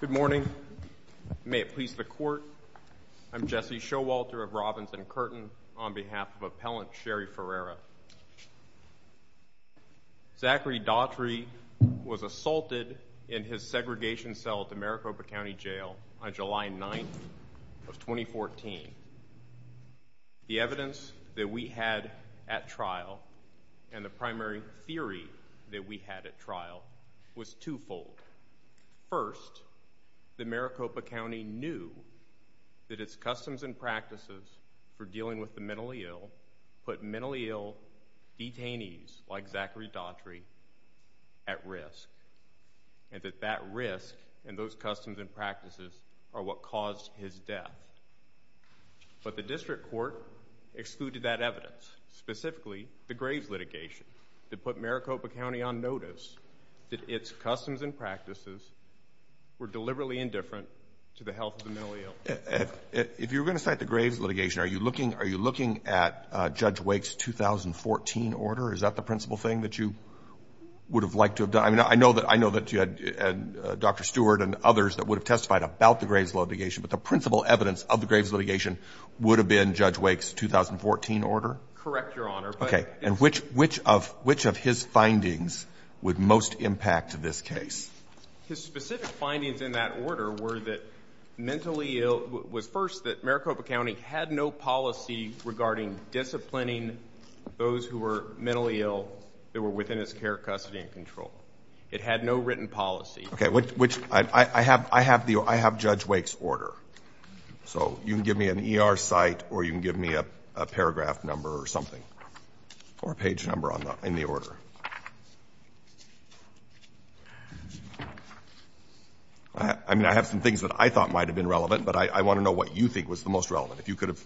Good morning. May it please the Court, I'm Jesse Showalter of Robins and Curtin on behalf of Appellant Shari Ferreira. Zachary Daughtry was assaulted in his segregation cell at the Maricopa County Jail on July 9, 2014. The evidence that we had at trial and the primary theory that we had at trial was two-fold. First, the Maricopa County knew that its customs and practices for dealing with the mentally ill put mentally ill detainees like Zachary Daughtry at risk. And that that risk and those customs and practices are what caused his death. But the District Court excluded that evidence, specifically the Graves litigation that put Maricopa County on notice that its customs and practices were deliberately indifferent to the health of the mentally ill. If you're going to cite the Graves litigation, are you looking at Judge Wake's 2014 order? Is that the principal thing that you would have liked to have done? I mean, I know that you had Dr. Stewart and others that would have testified about the Graves litigation, but the principal evidence of the Graves litigation would have been Judge Wake's 2014 order? Correct, Your Honor. Okay. And which of his findings would most impact this case? His specific findings in that order were that mentally ill was first that Maricopa County had no policy regarding disciplining those who were mentally ill that were within its care, custody, and control. It had no written policy. Okay. Which I have Judge Wake's order. So you can give me an ER site or you can give me a paragraph number or something or a page number in the order. I mean, I have some things that I thought might have been relevant, but I want to know what you think was the most relevant. If you could have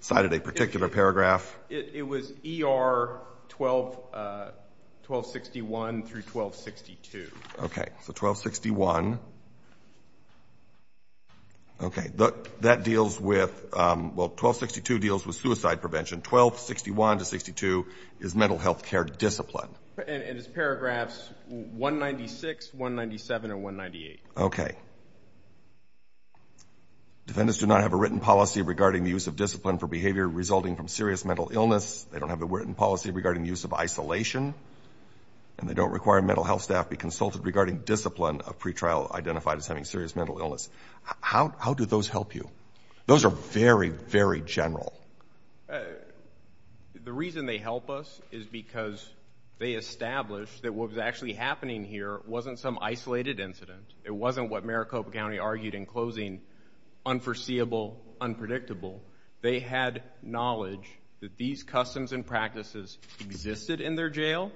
cited a particular paragraph. It was ER 1261 through 1262. Okay. So 1261. Okay. That deals with, well, 1262 deals with suicide prevention. 1261 to 1262 is mental health care discipline. And it's paragraphs 196, 197, and 198. Okay. Defendants do not have a written policy regarding the use of discipline for behavior resulting from serious mental illness. They don't have a written policy regarding the use of isolation. And they don't require mental health staff be consulted regarding discipline of pretrial identified as having serious mental illness. How do those help you? Those are very, very general. The reason they help us is because they established that what was actually happening here wasn't some isolated incident. It wasn't what Maricopa County argued in closing, unforeseeable, unpredictable. They had knowledge that these customs and practices existed in their jail.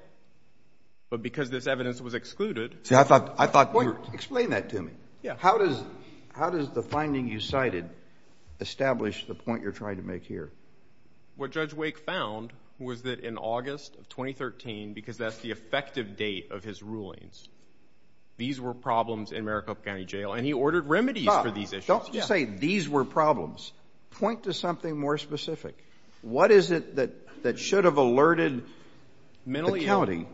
But because this evidence was excluded. See, I thought you were. Explain that to me. Yeah. How does the finding you cited establish the point you're trying to make here? What Judge Wake found was that in August of 2013, because that's the effective date of his rulings, these were problems in Maricopa County jail. And he ordered remedies for these issues. Don't just say these were problems. Point to something more specific. What is it that should have alerted the county?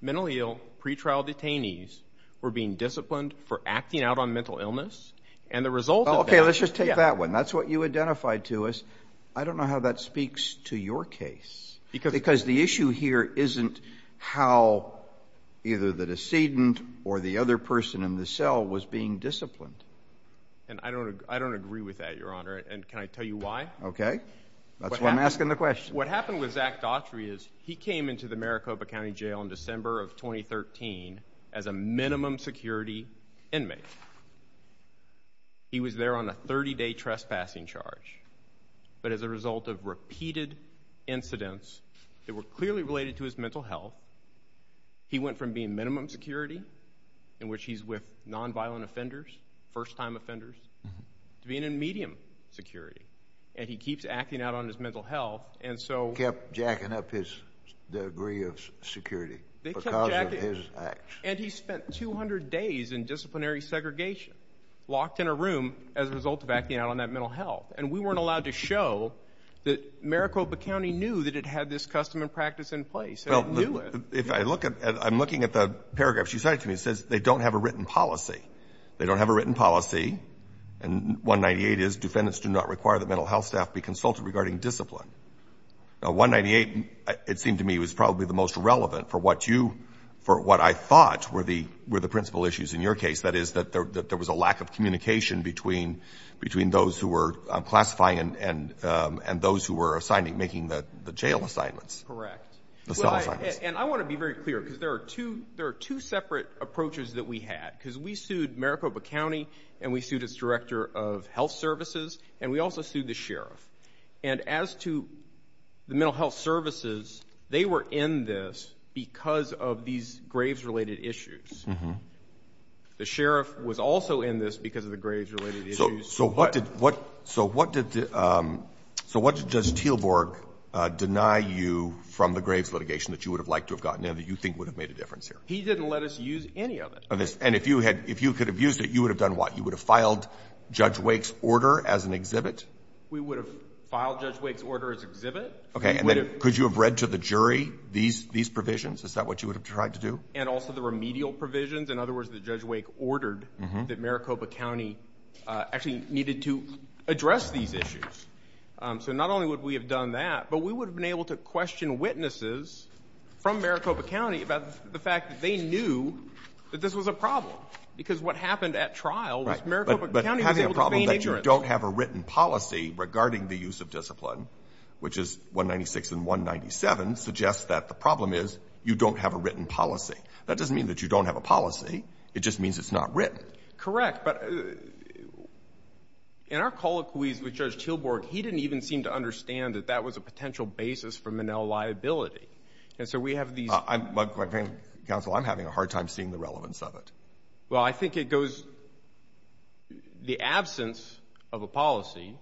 Mentally ill pretrial detainees were being disciplined for acting out on mental illness. And the result of that. Okay, let's just take that one. That's what you identified to us. I don't know how that speaks to your case. Because the issue here isn't how either the decedent or the other person in the cell was being disciplined. And I don't agree with that, Your Honor. And can I tell you why? Okay. That's why I'm asking the question. What happened with Zach Daughtry is he came into the Maricopa County jail in December of 2013 as a minimum security inmate. He was there on a 30-day trespassing charge. But as a result of repeated incidents that were clearly related to his mental health, he went from being minimum security in which he's with nonviolent offenders, first-time offenders, to being in medium security. And he keeps acting out on his mental health. And so. Kept jacking up his degree of security because of his acts. And he spent 200 days in disciplinary segregation locked in a room as a result of acting out on that mental health. And we weren't allowed to show that Maricopa County knew that it had this custom and practice in place. Well, if I look at the paragraphs you cited to me, it says they don't have a written policy. They don't have a written policy. And 198 is defendants do not require the mental health staff be consulted regarding discipline. 198, it seemed to me, was probably the most relevant for what you, for what I thought were the principal issues in your case. That is that there was a lack of communication between those who were classifying and those who were making the jail assignments. Correct. And I want to be very clear because there are two separate approaches that we had. Because we sued Maricopa County, and we sued its director of health services, and we also sued the sheriff. And as to the mental health services, they were in this because of these graves-related issues. The sheriff was also in this because of the graves-related issues. So what did Judge Teelborg deny you from the graves litigation that you would have liked to have gotten and that you think would have made a difference here? He didn't let us use any of it. And if you could have used it, you would have done what? You would have filed Judge Wake's order as an exhibit? We would have filed Judge Wake's order as an exhibit. Could you have read to the jury these provisions? Is that what you would have tried to do? And also the remedial provisions, in other words, that Judge Wake ordered that Maricopa County actually needed to address these issues. So not only would we have done that, but we would have been able to question witnesses from Maricopa County about the fact that they knew that this was a problem. Because what happened at trial was Maricopa County was able to feign ignorance. But the fact that you don't have a written policy regarding the use of discipline, which is 196 and 197, suggests that the problem is you don't have a written policy. That doesn't mean that you don't have a policy. It just means it's not written. Correct. But in our colloquies with Judge Teelborg, he didn't even seem to understand that that was a potential basis for Minnell liability. And so we have these — Counsel, I'm having a hard time seeing the relevance of it. Well, I think it goes — the absence of a policy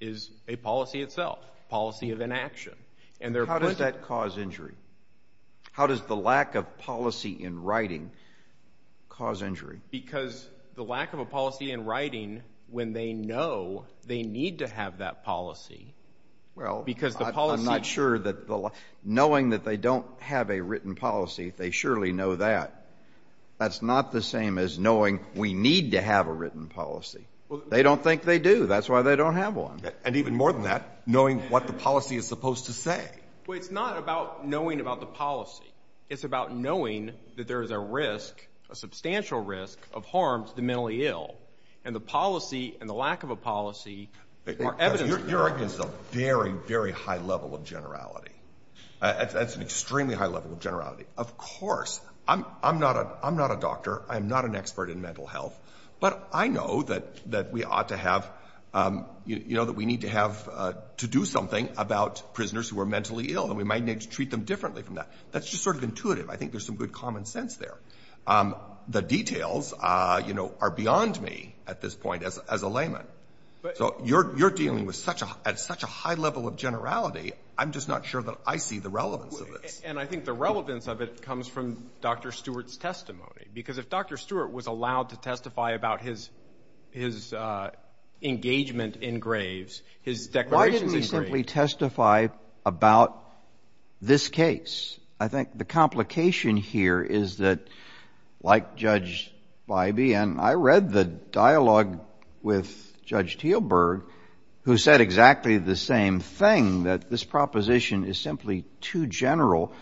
is a policy itself, a policy of inaction. How does that cause injury? How does the lack of policy in writing cause injury? Because the lack of a policy in writing, when they know they need to have that policy, because the policy — It's not the same as knowing we need to have a written policy. They don't think they do. That's why they don't have one. And even more than that, knowing what the policy is supposed to say. Well, it's not about knowing about the policy. It's about knowing that there is a risk, a substantial risk, of harm to the mentally ill. And the policy and the lack of a policy are evidence of that. Your argument is a very, very high level of generality. That's an extremely high level of generality. Of course, I'm not a doctor. I'm not an expert in mental health. But I know that we ought to have — you know, that we need to have — to do something about prisoners who are mentally ill, and we might need to treat them differently from that. That's just sort of intuitive. I think there's some good common sense there. The details, you know, are beyond me at this point as a layman. So you're dealing with such a — at such a high level of generality, I'm just not sure that I see the relevance of this. And I think the relevance of it comes from Dr. Stewart's testimony. Because if Dr. Stewart was allowed to testify about his engagement in graves, his declarations in graves — Why didn't he simply testify about this case? I think the complication here is that, like Judge Bybee, and I read the dialogue with Judge Teelberg, who said exactly the same thing, that this proposition is simply too general.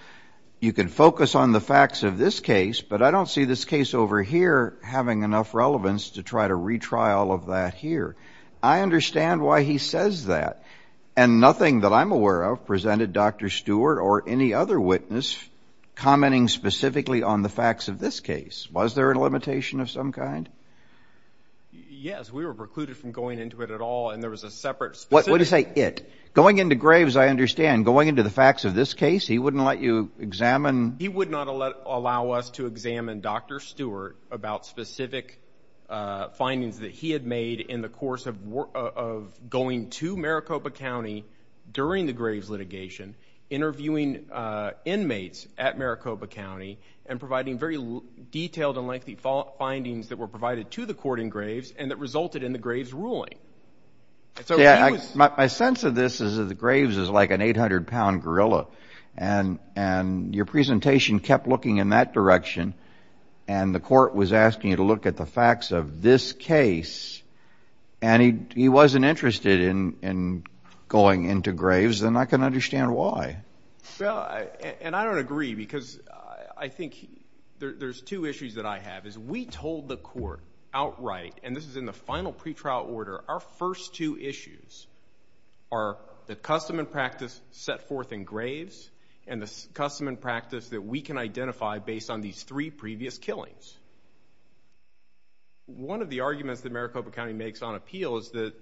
You can focus on the facts of this case, but I don't see this case over here having enough relevance to try to retry all of that here. I understand why he says that. And nothing that I'm aware of presented Dr. Stewart or any other witness commenting specifically on the facts of this case. Was there a limitation of some kind? Yes, we were precluded from going into it at all, and there was a separate — What do you say, it? Going into graves, I understand. Going into the facts of this case, he wouldn't let you examine — He would not allow us to examine Dr. Stewart about specific findings that he had made in the course of going to Maricopa County during the graves litigation, interviewing inmates at Maricopa County, and providing very detailed and lengthy findings that were provided to the court in graves and that resulted in the graves ruling. My sense of this is that the graves is like an 800-pound gorilla, and your presentation kept looking in that direction, and the court was asking you to look at the facts of this case, and he wasn't interested in going into graves, and I can understand why. Well, and I don't agree, because I think there's two issues that I have, is we told the court outright, and this is in the final pretrial order, our first two issues are the custom and practice set forth in graves and the custom and practice that we can identify based on these three previous killings. One of the arguments that Maricopa County makes on appeal is that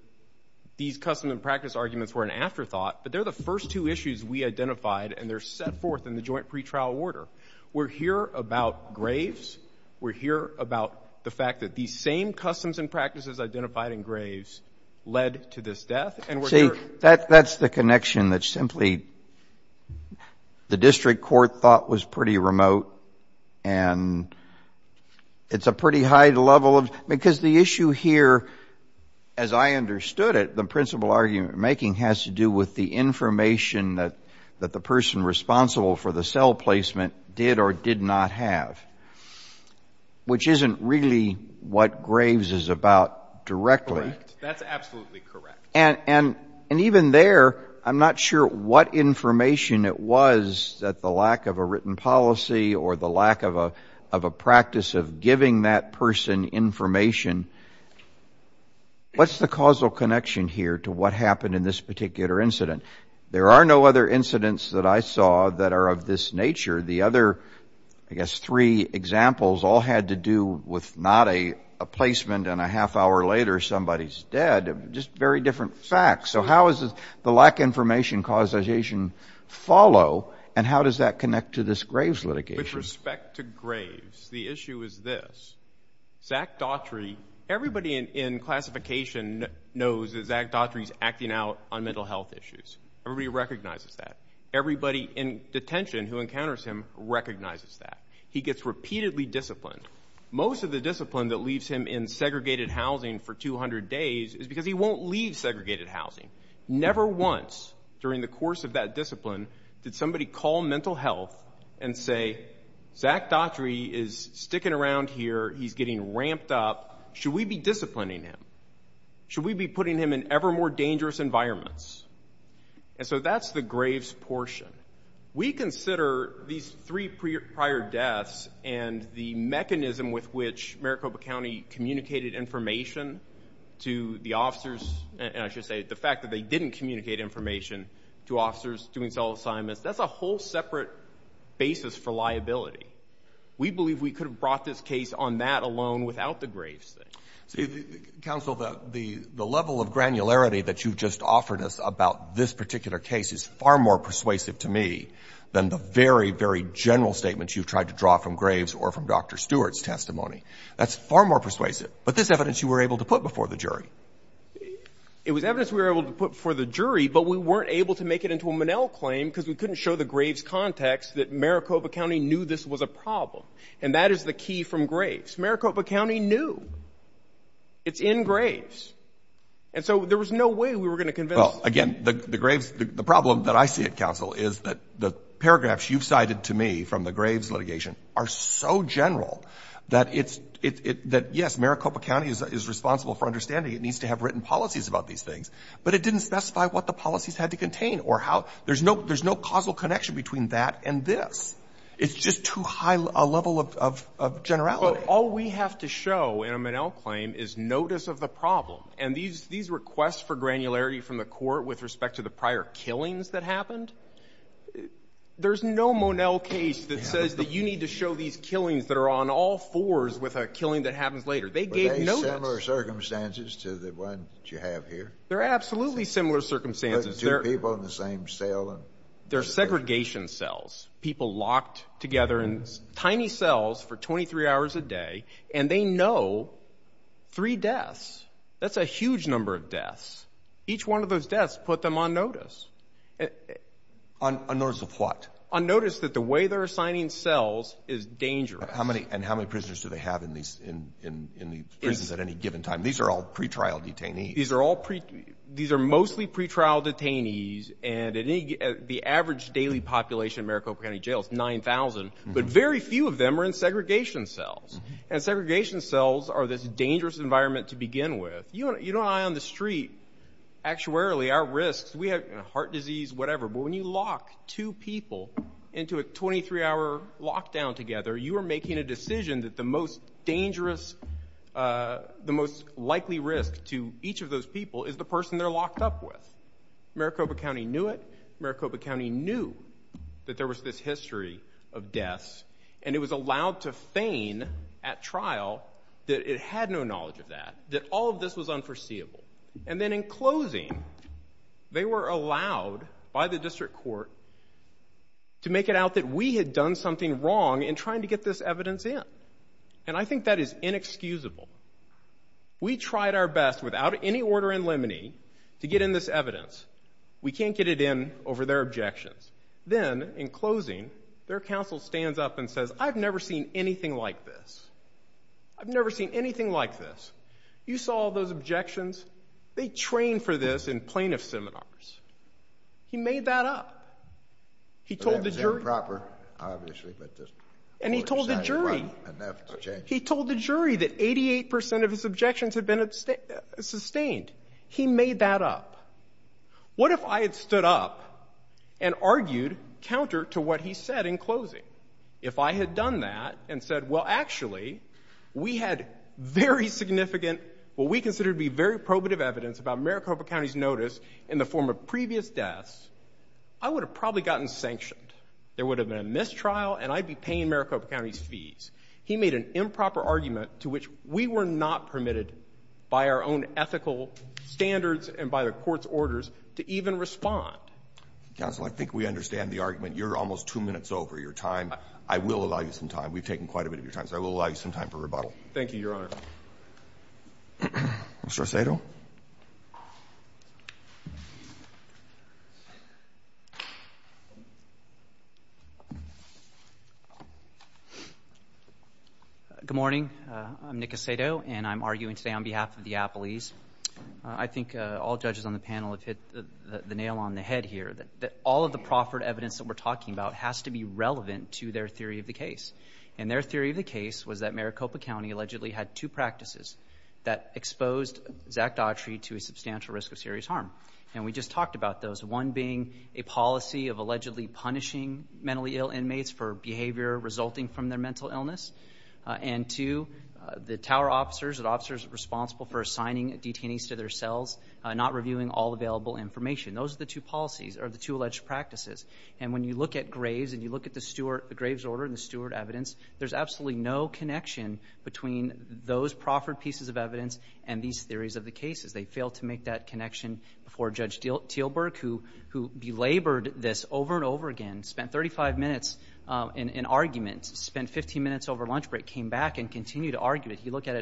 these custom and practice arguments were an afterthought, but they're the first two issues we identified, and they're set forth in the joint pretrial order. We're here about graves. We're here about the fact that these same customs and practices identified in graves led to this death, and we're here. See, that's the connection that simply the district court thought was pretty remote, and it's a pretty high level, because the issue here, as I understood it, the principal argument we're making has to do with the information that the person responsible for the cell placement did or did not have, which isn't really what graves is about directly. Correct. That's absolutely correct. And even there, I'm not sure what information it was that the lack of a written policy or the lack of a practice of giving that person information. What's the causal connection here to what happened in this particular incident? There are no other incidents that I saw that are of this nature. The other, I guess, three examples all had to do with not a placement and a half hour later somebody's dead, just very different facts. So how does the lack of information causation follow, and how does that connect to this graves litigation? With respect to graves, the issue is this. Zach Daughtry, everybody in classification knows that Zach Daughtry is acting out on mental health issues. Everybody recognizes that. Everybody in detention who encounters him recognizes that. He gets repeatedly disciplined. Most of the discipline that leaves him in segregated housing for 200 days is because he won't leave segregated housing. Never once during the course of that discipline did somebody call mental health and say, Zach Daughtry is sticking around here, he's getting ramped up, should we be disciplining him? Should we be putting him in ever more dangerous environments? And so that's the graves portion. We consider these three prior deaths and the mechanism with which Maricopa County communicated information to the officers, and I should say the fact that they didn't communicate information to officers doing cell assignments, that's a whole separate basis for liability. We believe we could have brought this case on that alone without the graves thing. Counsel, the level of granularity that you've just offered us about this particular case is far more persuasive to me than the very, very general statements you've tried to draw from graves or from Dr. Stewart's testimony. That's far more persuasive. But this evidence you were able to put before the jury. It was evidence we were able to put before the jury, but we weren't able to make it into a Monell claim because we couldn't show the graves context that Maricopa County knew this was a problem, and that is the key from graves. Maricopa County knew it's in graves, and so there was no way we were going to convince them. Well, again, the graves, the problem that I see it, Counsel, is that the paragraphs you've cited to me from the graves litigation are so general that it's, that yes, Maricopa County is responsible for understanding it needs to have written policies about these things, but it didn't specify what the policies had to contain or how. There's no causal connection between that and this. It's just too high a level of generality. But all we have to show in a Monell claim is notice of the problem. And these requests for granularity from the court with respect to the prior killings that happened, there's no Monell case that says that you need to show these killings that are on all fours with a killing that happens later. They gave notice. Were they similar circumstances to the one that you have here? They're absolutely similar circumstances. Two people in the same cell. They're segregation cells. People locked together in tiny cells for 23 hours a day, and they know three deaths. That's a huge number of deaths. Each one of those deaths put them on notice. On notice of what? On notice that the way they're assigning cells is dangerous. And how many prisoners do they have in the prisons at any given time? These are all pretrial detainees. These are mostly pretrial detainees. And the average daily population in Maricopa County Jail is 9,000. But very few of them are in segregation cells. And segregation cells are this dangerous environment to begin with. You don't lie on the street. Actuarily, our risks, we have heart disease, whatever. But when you lock two people into a 23-hour lockdown together, you are making a decision that the most dangerous, the most likely risk to each of those people is the person they're locked up with. Maricopa County knew it. Maricopa County knew that there was this history of deaths. And it was allowed to feign at trial that it had no knowledge of that, that all of this was unforeseeable. And then in closing, they were allowed by the district court to make it out that we had done something wrong in trying to get this evidence in. And I think that is inexcusable. We tried our best without any order in limine to get in this evidence. We can't get it in over their objections. Then, in closing, their counsel stands up and says, I've never seen anything like this. I've never seen anything like this. You saw all those objections. They train for this in plaintiff seminars. He made that up. He told the jury. It was improper, obviously. And he told the jury. He told the jury that 88 percent of his objections had been sustained. He made that up. What if I had stood up and argued counter to what he said in closing? If I had done that and said, well, actually, we had very significant, what we consider to be very probative evidence about Maricopa County's notice in the form of previous deaths, I would have probably gotten sanctioned. There would have been a mistrial, and I'd be paying Maricopa County's fees. He made an improper argument to which we were not permitted by our own ethical standards and by the Court's orders to even respond. Counsel, I think we understand the argument. You're almost two minutes over your time. I will allow you some time. We've taken quite a bit of your time. So I will allow you some time for rebuttal. Thank you, Your Honor. Mr. Aceto? Good morning. I'm Nick Aceto, and I'm arguing today on behalf of the Appellees. I think all judges on the panel have hit the nail on the head here, that all of the proffered evidence that we're talking about has to be relevant to their theory of the case. And their theory of the case was that Maricopa County allegedly had two practices that exposed Zach Daughtry to a substantial risk of serious harm. And we just talked about those, one being a policy of allegedly punishing mentally ill inmates for behavior resulting from their mental illness. And two, the tower officers, the officers responsible for assigning detainees to their cells, not reviewing all available information. Those are the two policies or the two alleged practices. And when you look at Graves and you look at the Graves order and the Stewart evidence, there's absolutely no connection between those proffered pieces of evidence and these theories of the cases. They failed to make that connection before Judge Teelburg, who belabored this over and over again, spent 35 minutes in argument, spent 15 minutes over lunch break, came back and continued to argue it. He looked at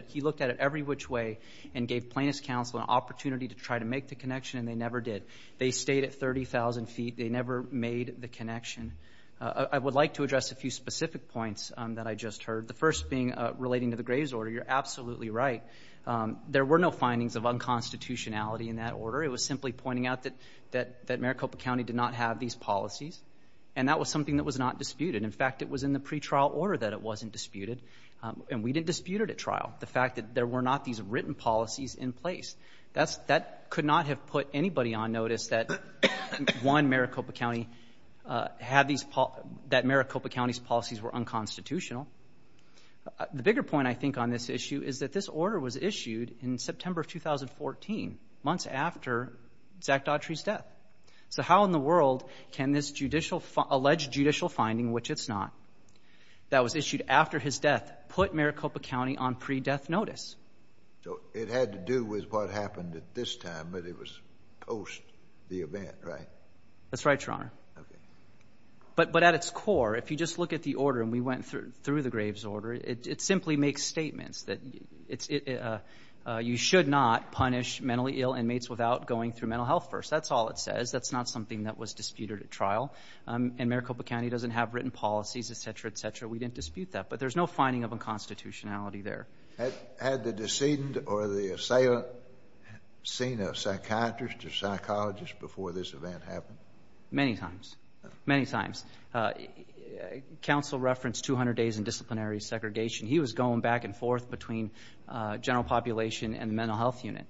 it every which way and gave plaintiff's counsel an opportunity to try to make the connection, and they never did. They stayed at 30,000 feet. They never made the connection. I would like to address a few specific points that I just heard, the first being relating to the Graves order. You're absolutely right. There were no findings of unconstitutionality in that order. It was simply pointing out that Maricopa County did not have these policies, and that was something that was not disputed. In fact, it was in the pretrial order that it wasn't disputed, and we didn't dispute it at trial, the fact that there were not these written policies in place. That could not have put anybody on notice that, one, Maricopa County had these policies, that Maricopa County's policies were unconstitutional. The bigger point, I think, on this issue is that this order was issued in September of 2014, months after Zach Daughtry's death. So how in the world can this alleged judicial finding, which it's not, that was issued after his death, put Maricopa County on pre-death notice? So it had to do with what happened at this time, but it was post the event, right? That's right, Your Honor. Okay. But at its core, if you just look at the order, and we went through the Graves order, it simply makes statements that you should not punish mentally ill inmates without going through mental health first. That's all it says. That's not something that was disputed at trial. And Maricopa County doesn't have written policies, et cetera, et cetera. We didn't dispute that. But there's no finding of unconstitutionality there. Had the decedent or the assailant seen a psychiatrist or psychologist before this event happened? Many times. Many times. Counsel referenced 200 days in disciplinary segregation. He was going back and forth between general population and the mental health unit.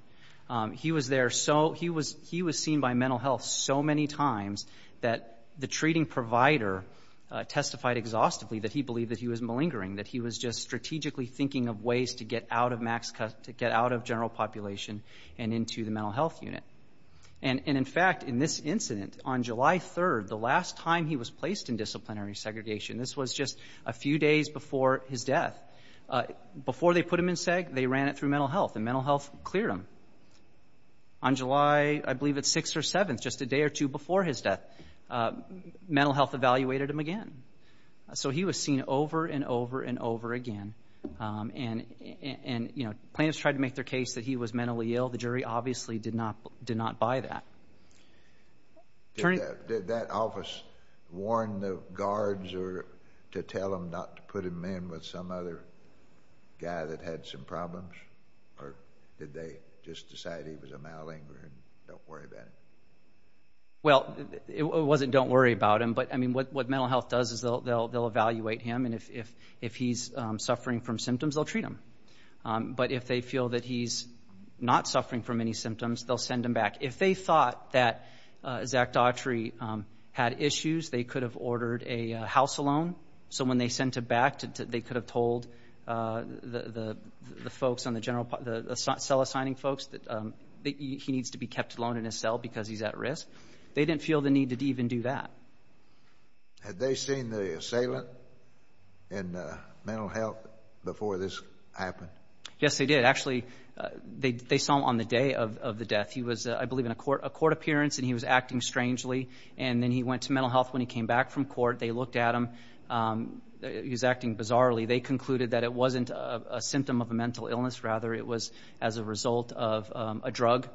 He was there so he was seen by mental health so many times that the treating provider testified exhaustively that he believed that he was malingering, that he was just strategically thinking of ways to get out of general population and into the mental health unit. And, in fact, in this incident, on July 3rd, the last time he was placed in disciplinary segregation, this was just a few days before his death, before they put him in SEG, they ran it through mental health, and mental health cleared him. On July, I believe it's 6th or 7th, just a day or two before his death, mental health evaluated him again. So he was seen over and over and over again. And, you know, plaintiffs tried to make their case that he was mentally ill. The jury obviously did not buy that. Did that office warn the guards to tell them not to put him in with some other guy that had some problems, or did they just decide he was a malingerer and don't worry about it? Well, it wasn't don't worry about him. But, I mean, what mental health does is they'll evaluate him, and if he's suffering from symptoms, they'll treat him. But if they feel that he's not suffering from any symptoms, they'll send him back. If they thought that Zach Daughtry had issues, they could have ordered a house loan. So when they sent him back, they could have told the folks on the cell assigning folks that he needs to be kept alone in his cell because he's at risk. They didn't feel the need to even do that. Had they seen the assailant in mental health before this happened? Yes, they did. Actually, they saw him on the day of the death. He was, I believe, in a court appearance, and he was acting strangely. And then he went to mental health. When he came back from court, they looked at him. He was acting bizarrely. They concluded that it wasn't a symptom of a mental illness. Rather, it was as a result of a drug.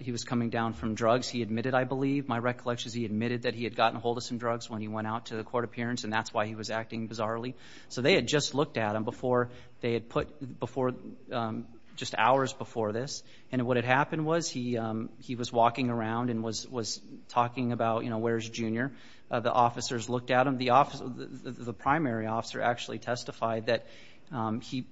He was coming down from drugs. He admitted, I believe. My recollection is he admitted that he had gotten a hold of some drugs when he went out to the court appearance, and that's why he was acting bizarrely. So they had just looked at him just hours before this. And what had happened was he was walking around and was talking about, you know, where's Junior? The officers looked at him. The primary officer actually testified that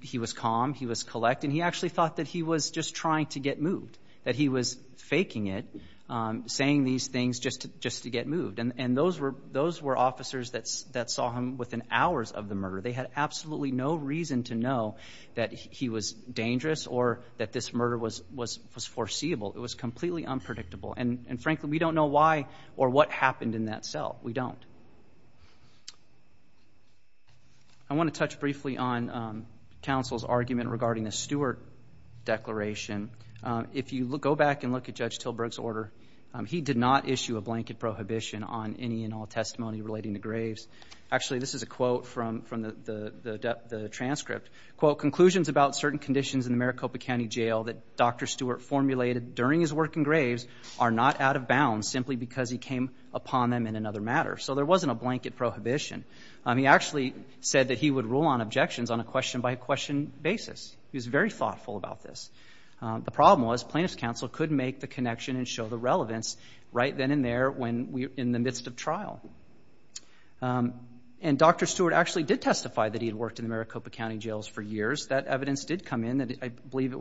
he was calm, he was collect, and he actually thought that he was just trying to get moved, that he was faking it, saying these things just to get moved. And those were officers that saw him within hours of the murder. They had absolutely no reason to know that he was dangerous or that this murder was foreseeable. It was completely unpredictable. And, frankly, we don't know why or what happened in that cell. We don't. Thank you. I want to touch briefly on counsel's argument regarding the Stewart declaration. If you go back and look at Judge Tilburg's order, he did not issue a blanket prohibition on any and all testimony relating to graves. Actually, this is a quote from the transcript. Quote, conclusions about certain conditions in the Maricopa County jail that Dr. Stewart formulated during his work in graves are not out of bounds simply because he came upon them in another matter. So there wasn't a blanket prohibition. He actually said that he would rule on objections on a question-by-question basis. He was very thoughtful about this. The problem was plaintiff's counsel couldn't make the connection and show the relevance right then and there in the midst of trial. And Dr. Stewart actually did testify that he had worked in the Maricopa County jails for years. That evidence did come in. I believe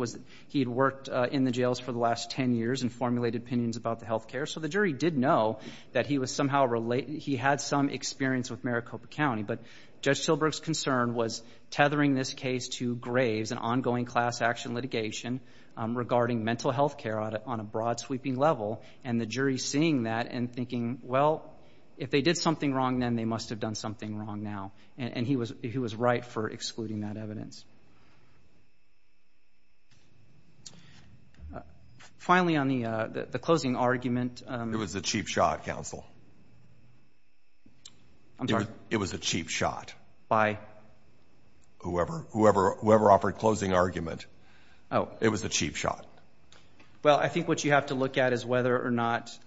he had worked in the jails for the last 10 years and formulated opinions about the health care. So the jury did know that he had some experience with Maricopa County. But Judge Tilburg's concern was tethering this case to graves and ongoing class-action litigation regarding mental health care on a broad, sweeping level, and the jury seeing that and thinking, well, if they did something wrong then, they must have done something wrong now. And he was right for excluding that evidence. Finally, on the closing argument. It was a cheap shot, counsel. I'm sorry? It was a cheap shot. By? Whoever offered closing argument. Oh. It was a cheap shot. Well, I think what you have to look at is whether or not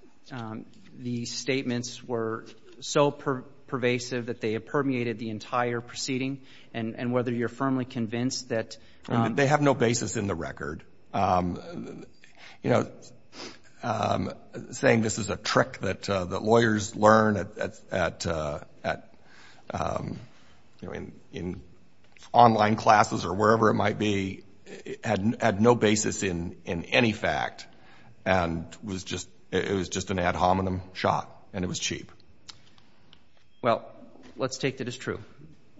the statements were so pervasive that they have permeated the entire proceeding and whether you're firmly convinced that. They have no basis in the record. You know, saying this is a trick that lawyers learn in online classes or wherever it might be had no basis in any fact and it was just an ad hominem shot and it was cheap. Well, let's take that as true.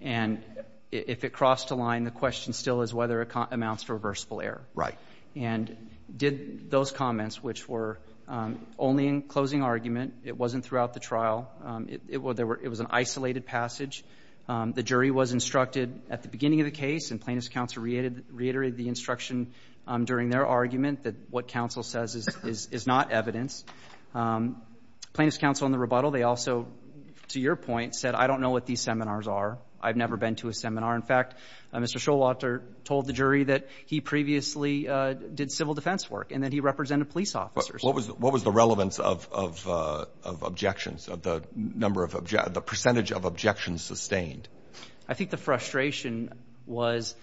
And if it crossed a line, the question still is whether it amounts to reversible error. Right. And did those comments, which were only in closing argument, it wasn't throughout the trial, it was an isolated passage, the jury was instructed at the beginning of the case and plaintiff's counsel reiterated the instruction during their argument that what counsel says is not evidence. Plaintiff's counsel in the rebuttal, they also, to your point, said, I don't know what these seminars are. I've never been to a seminar. In fact, Mr. Showalter told the jury that he previously did civil defense work and that he represented police officers. What was the relevance of objections, the percentage of objections sustained? I think the frustration was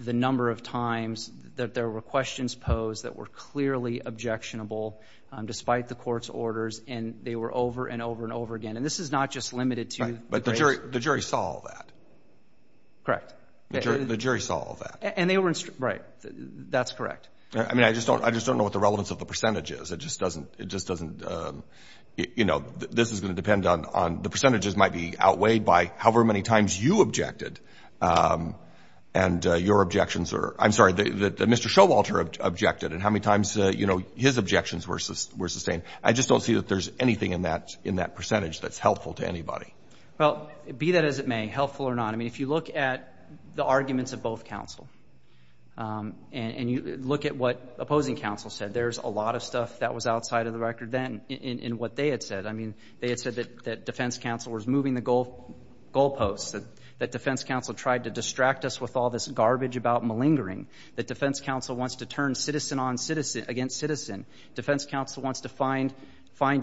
the number of times that there were questions posed that were clearly objectionable despite the court's orders and they were over and over and over again. And this is not just limited to the case. But the jury saw all that. Correct. The jury saw all that. And they were instructed. Right. That's correct. I mean, I just don't know what the relevance of the percentage is. It just doesn't, it just doesn't, you know, this is going to depend on the percentages might be outweighed by however many times you objected and your objections are, I'm sorry, that Mr. Showalter objected and how many times, you know, his objections were sustained. I just don't see that there's anything in that percentage that's helpful to anybody. Well, be that as it may, helpful or not. I mean, if you look at the arguments of both counsel and you look at what opposing counsel said, there's a lot of stuff that was outside of the record then in what they had said. I mean, they had said that defense counsel was moving the goal posts, that defense counsel tried to distract us with all this garbage about malingering, that defense counsel wants to turn citizen on citizen against citizen. Defense counsel wants to find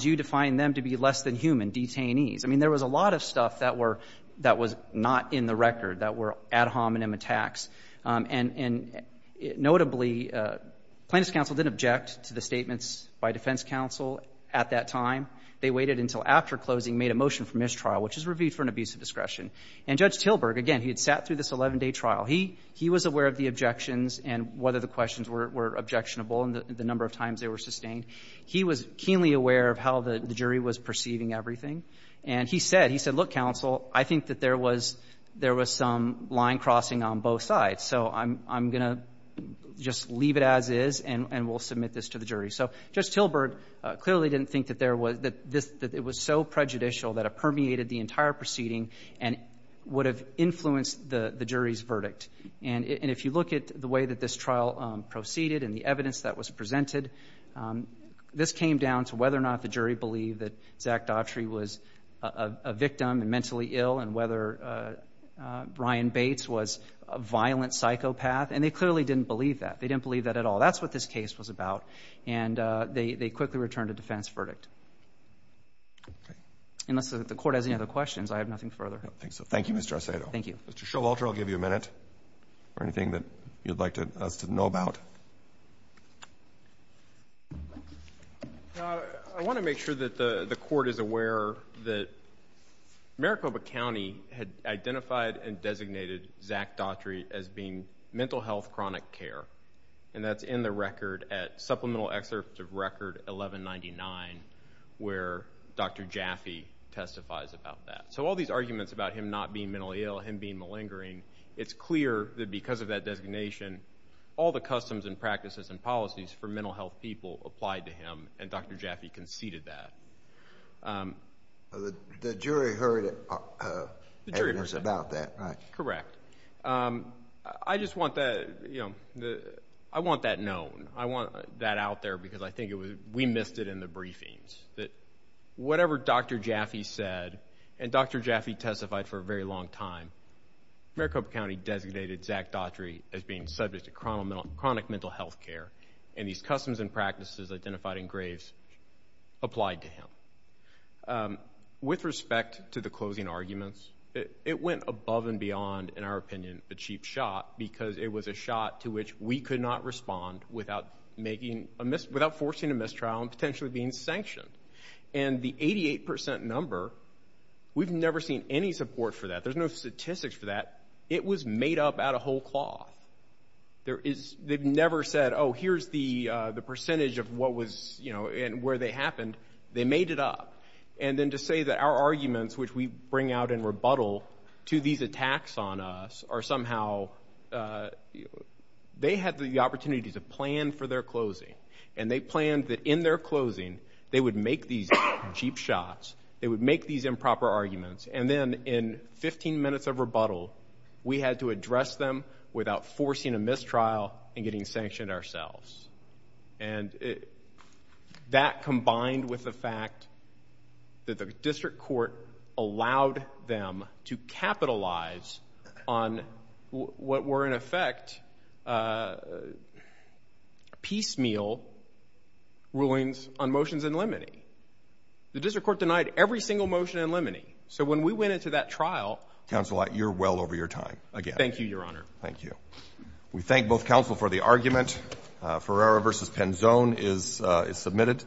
you to find them to be less than human, detainees. I mean, there was a lot of stuff that was not in the record that were ad hominem attacks. And notably, plaintiff's counsel didn't object to the statements by defense counsel at that time. They waited until after closing, made a motion for mistrial, which is reviewed for an abuse of discretion. And Judge Tilburg, again, he had sat through this 11-day trial. He was aware of the objections and whether the questions were objectionable and the number of times they were sustained. He was keenly aware of how the jury was perceiving everything. And he said, he said, look, counsel, I think that there was some line crossing on both sides. So I'm going to just leave it as is and we'll submit this to the jury. So Judge Tilburg clearly didn't think that there was this, that it was so prejudicial that it permeated the entire proceeding and would have influenced the jury's verdict. And if you look at the way that this trial proceeded and the evidence that was presented, this came down to whether or not the jury believed that Zach Daughtry was a victim and mentally ill and whether Brian Bates was a violent psychopath. And they clearly didn't believe that. They didn't believe that at all. That's what this case was about. And they quickly returned a defense verdict. Unless the Court has any other questions, I have nothing further. Roberts. Thank you, Mr. Arcedo. Arcedo. Thank you. Mr. Showalter, I'll give you a minute for anything that you'd like us to know about. I want to make sure that the Court is aware that Maricopa County had identified and designated Zach Daughtry as being mental health chronic care. And that's in the record at Supplemental Excerpt of Record 1199 where Dr. Jaffe testifies about that. So all these arguments about him not being mentally ill, him being malingering, it's clear that because of that designation, all the customs and practices and policies for mental health people applied to him, and Dr. Jaffe conceded that. The jury heard evidence about that, right? Correct. I just want that known. I want that out there because I think we missed it in the briefings. Whatever Dr. Jaffe said, and Dr. Jaffe testified for a very long time, Maricopa County designated Zach Daughtry as being subject to chronic mental health care, and these customs and practices identified in Graves applied to him. With respect to the closing arguments, it went above and beyond, in our opinion, a cheap shot because it was a shot to which we could not respond without forcing a mistrial and potentially being sanctioned. And the 88% number, we've never seen any support for that. There's no statistics for that. It was made up out of whole cloth. They've never said, oh, here's the percentage of what was and where they happened. They made it up. And then to say that our arguments, which we bring out in rebuttal to these attacks on us, are somehow they had the opportunity to plan for their closing, and they planned that in their closing they would make these cheap shots, they would make these improper arguments, and then in 15 minutes of rebuttal, we had to address them without forcing a mistrial and getting sanctioned ourselves. And that combined with the fact that the district court allowed them to capitalize on what were, in effect, piecemeal rulings on motions in limine. The district court denied every single motion in limine. So when we went into that trial— Counsel, you're well over your time again. Thank you, Your Honor. Thank you. We thank both counsel for the argument. Ferrara v. Penzone is submitted.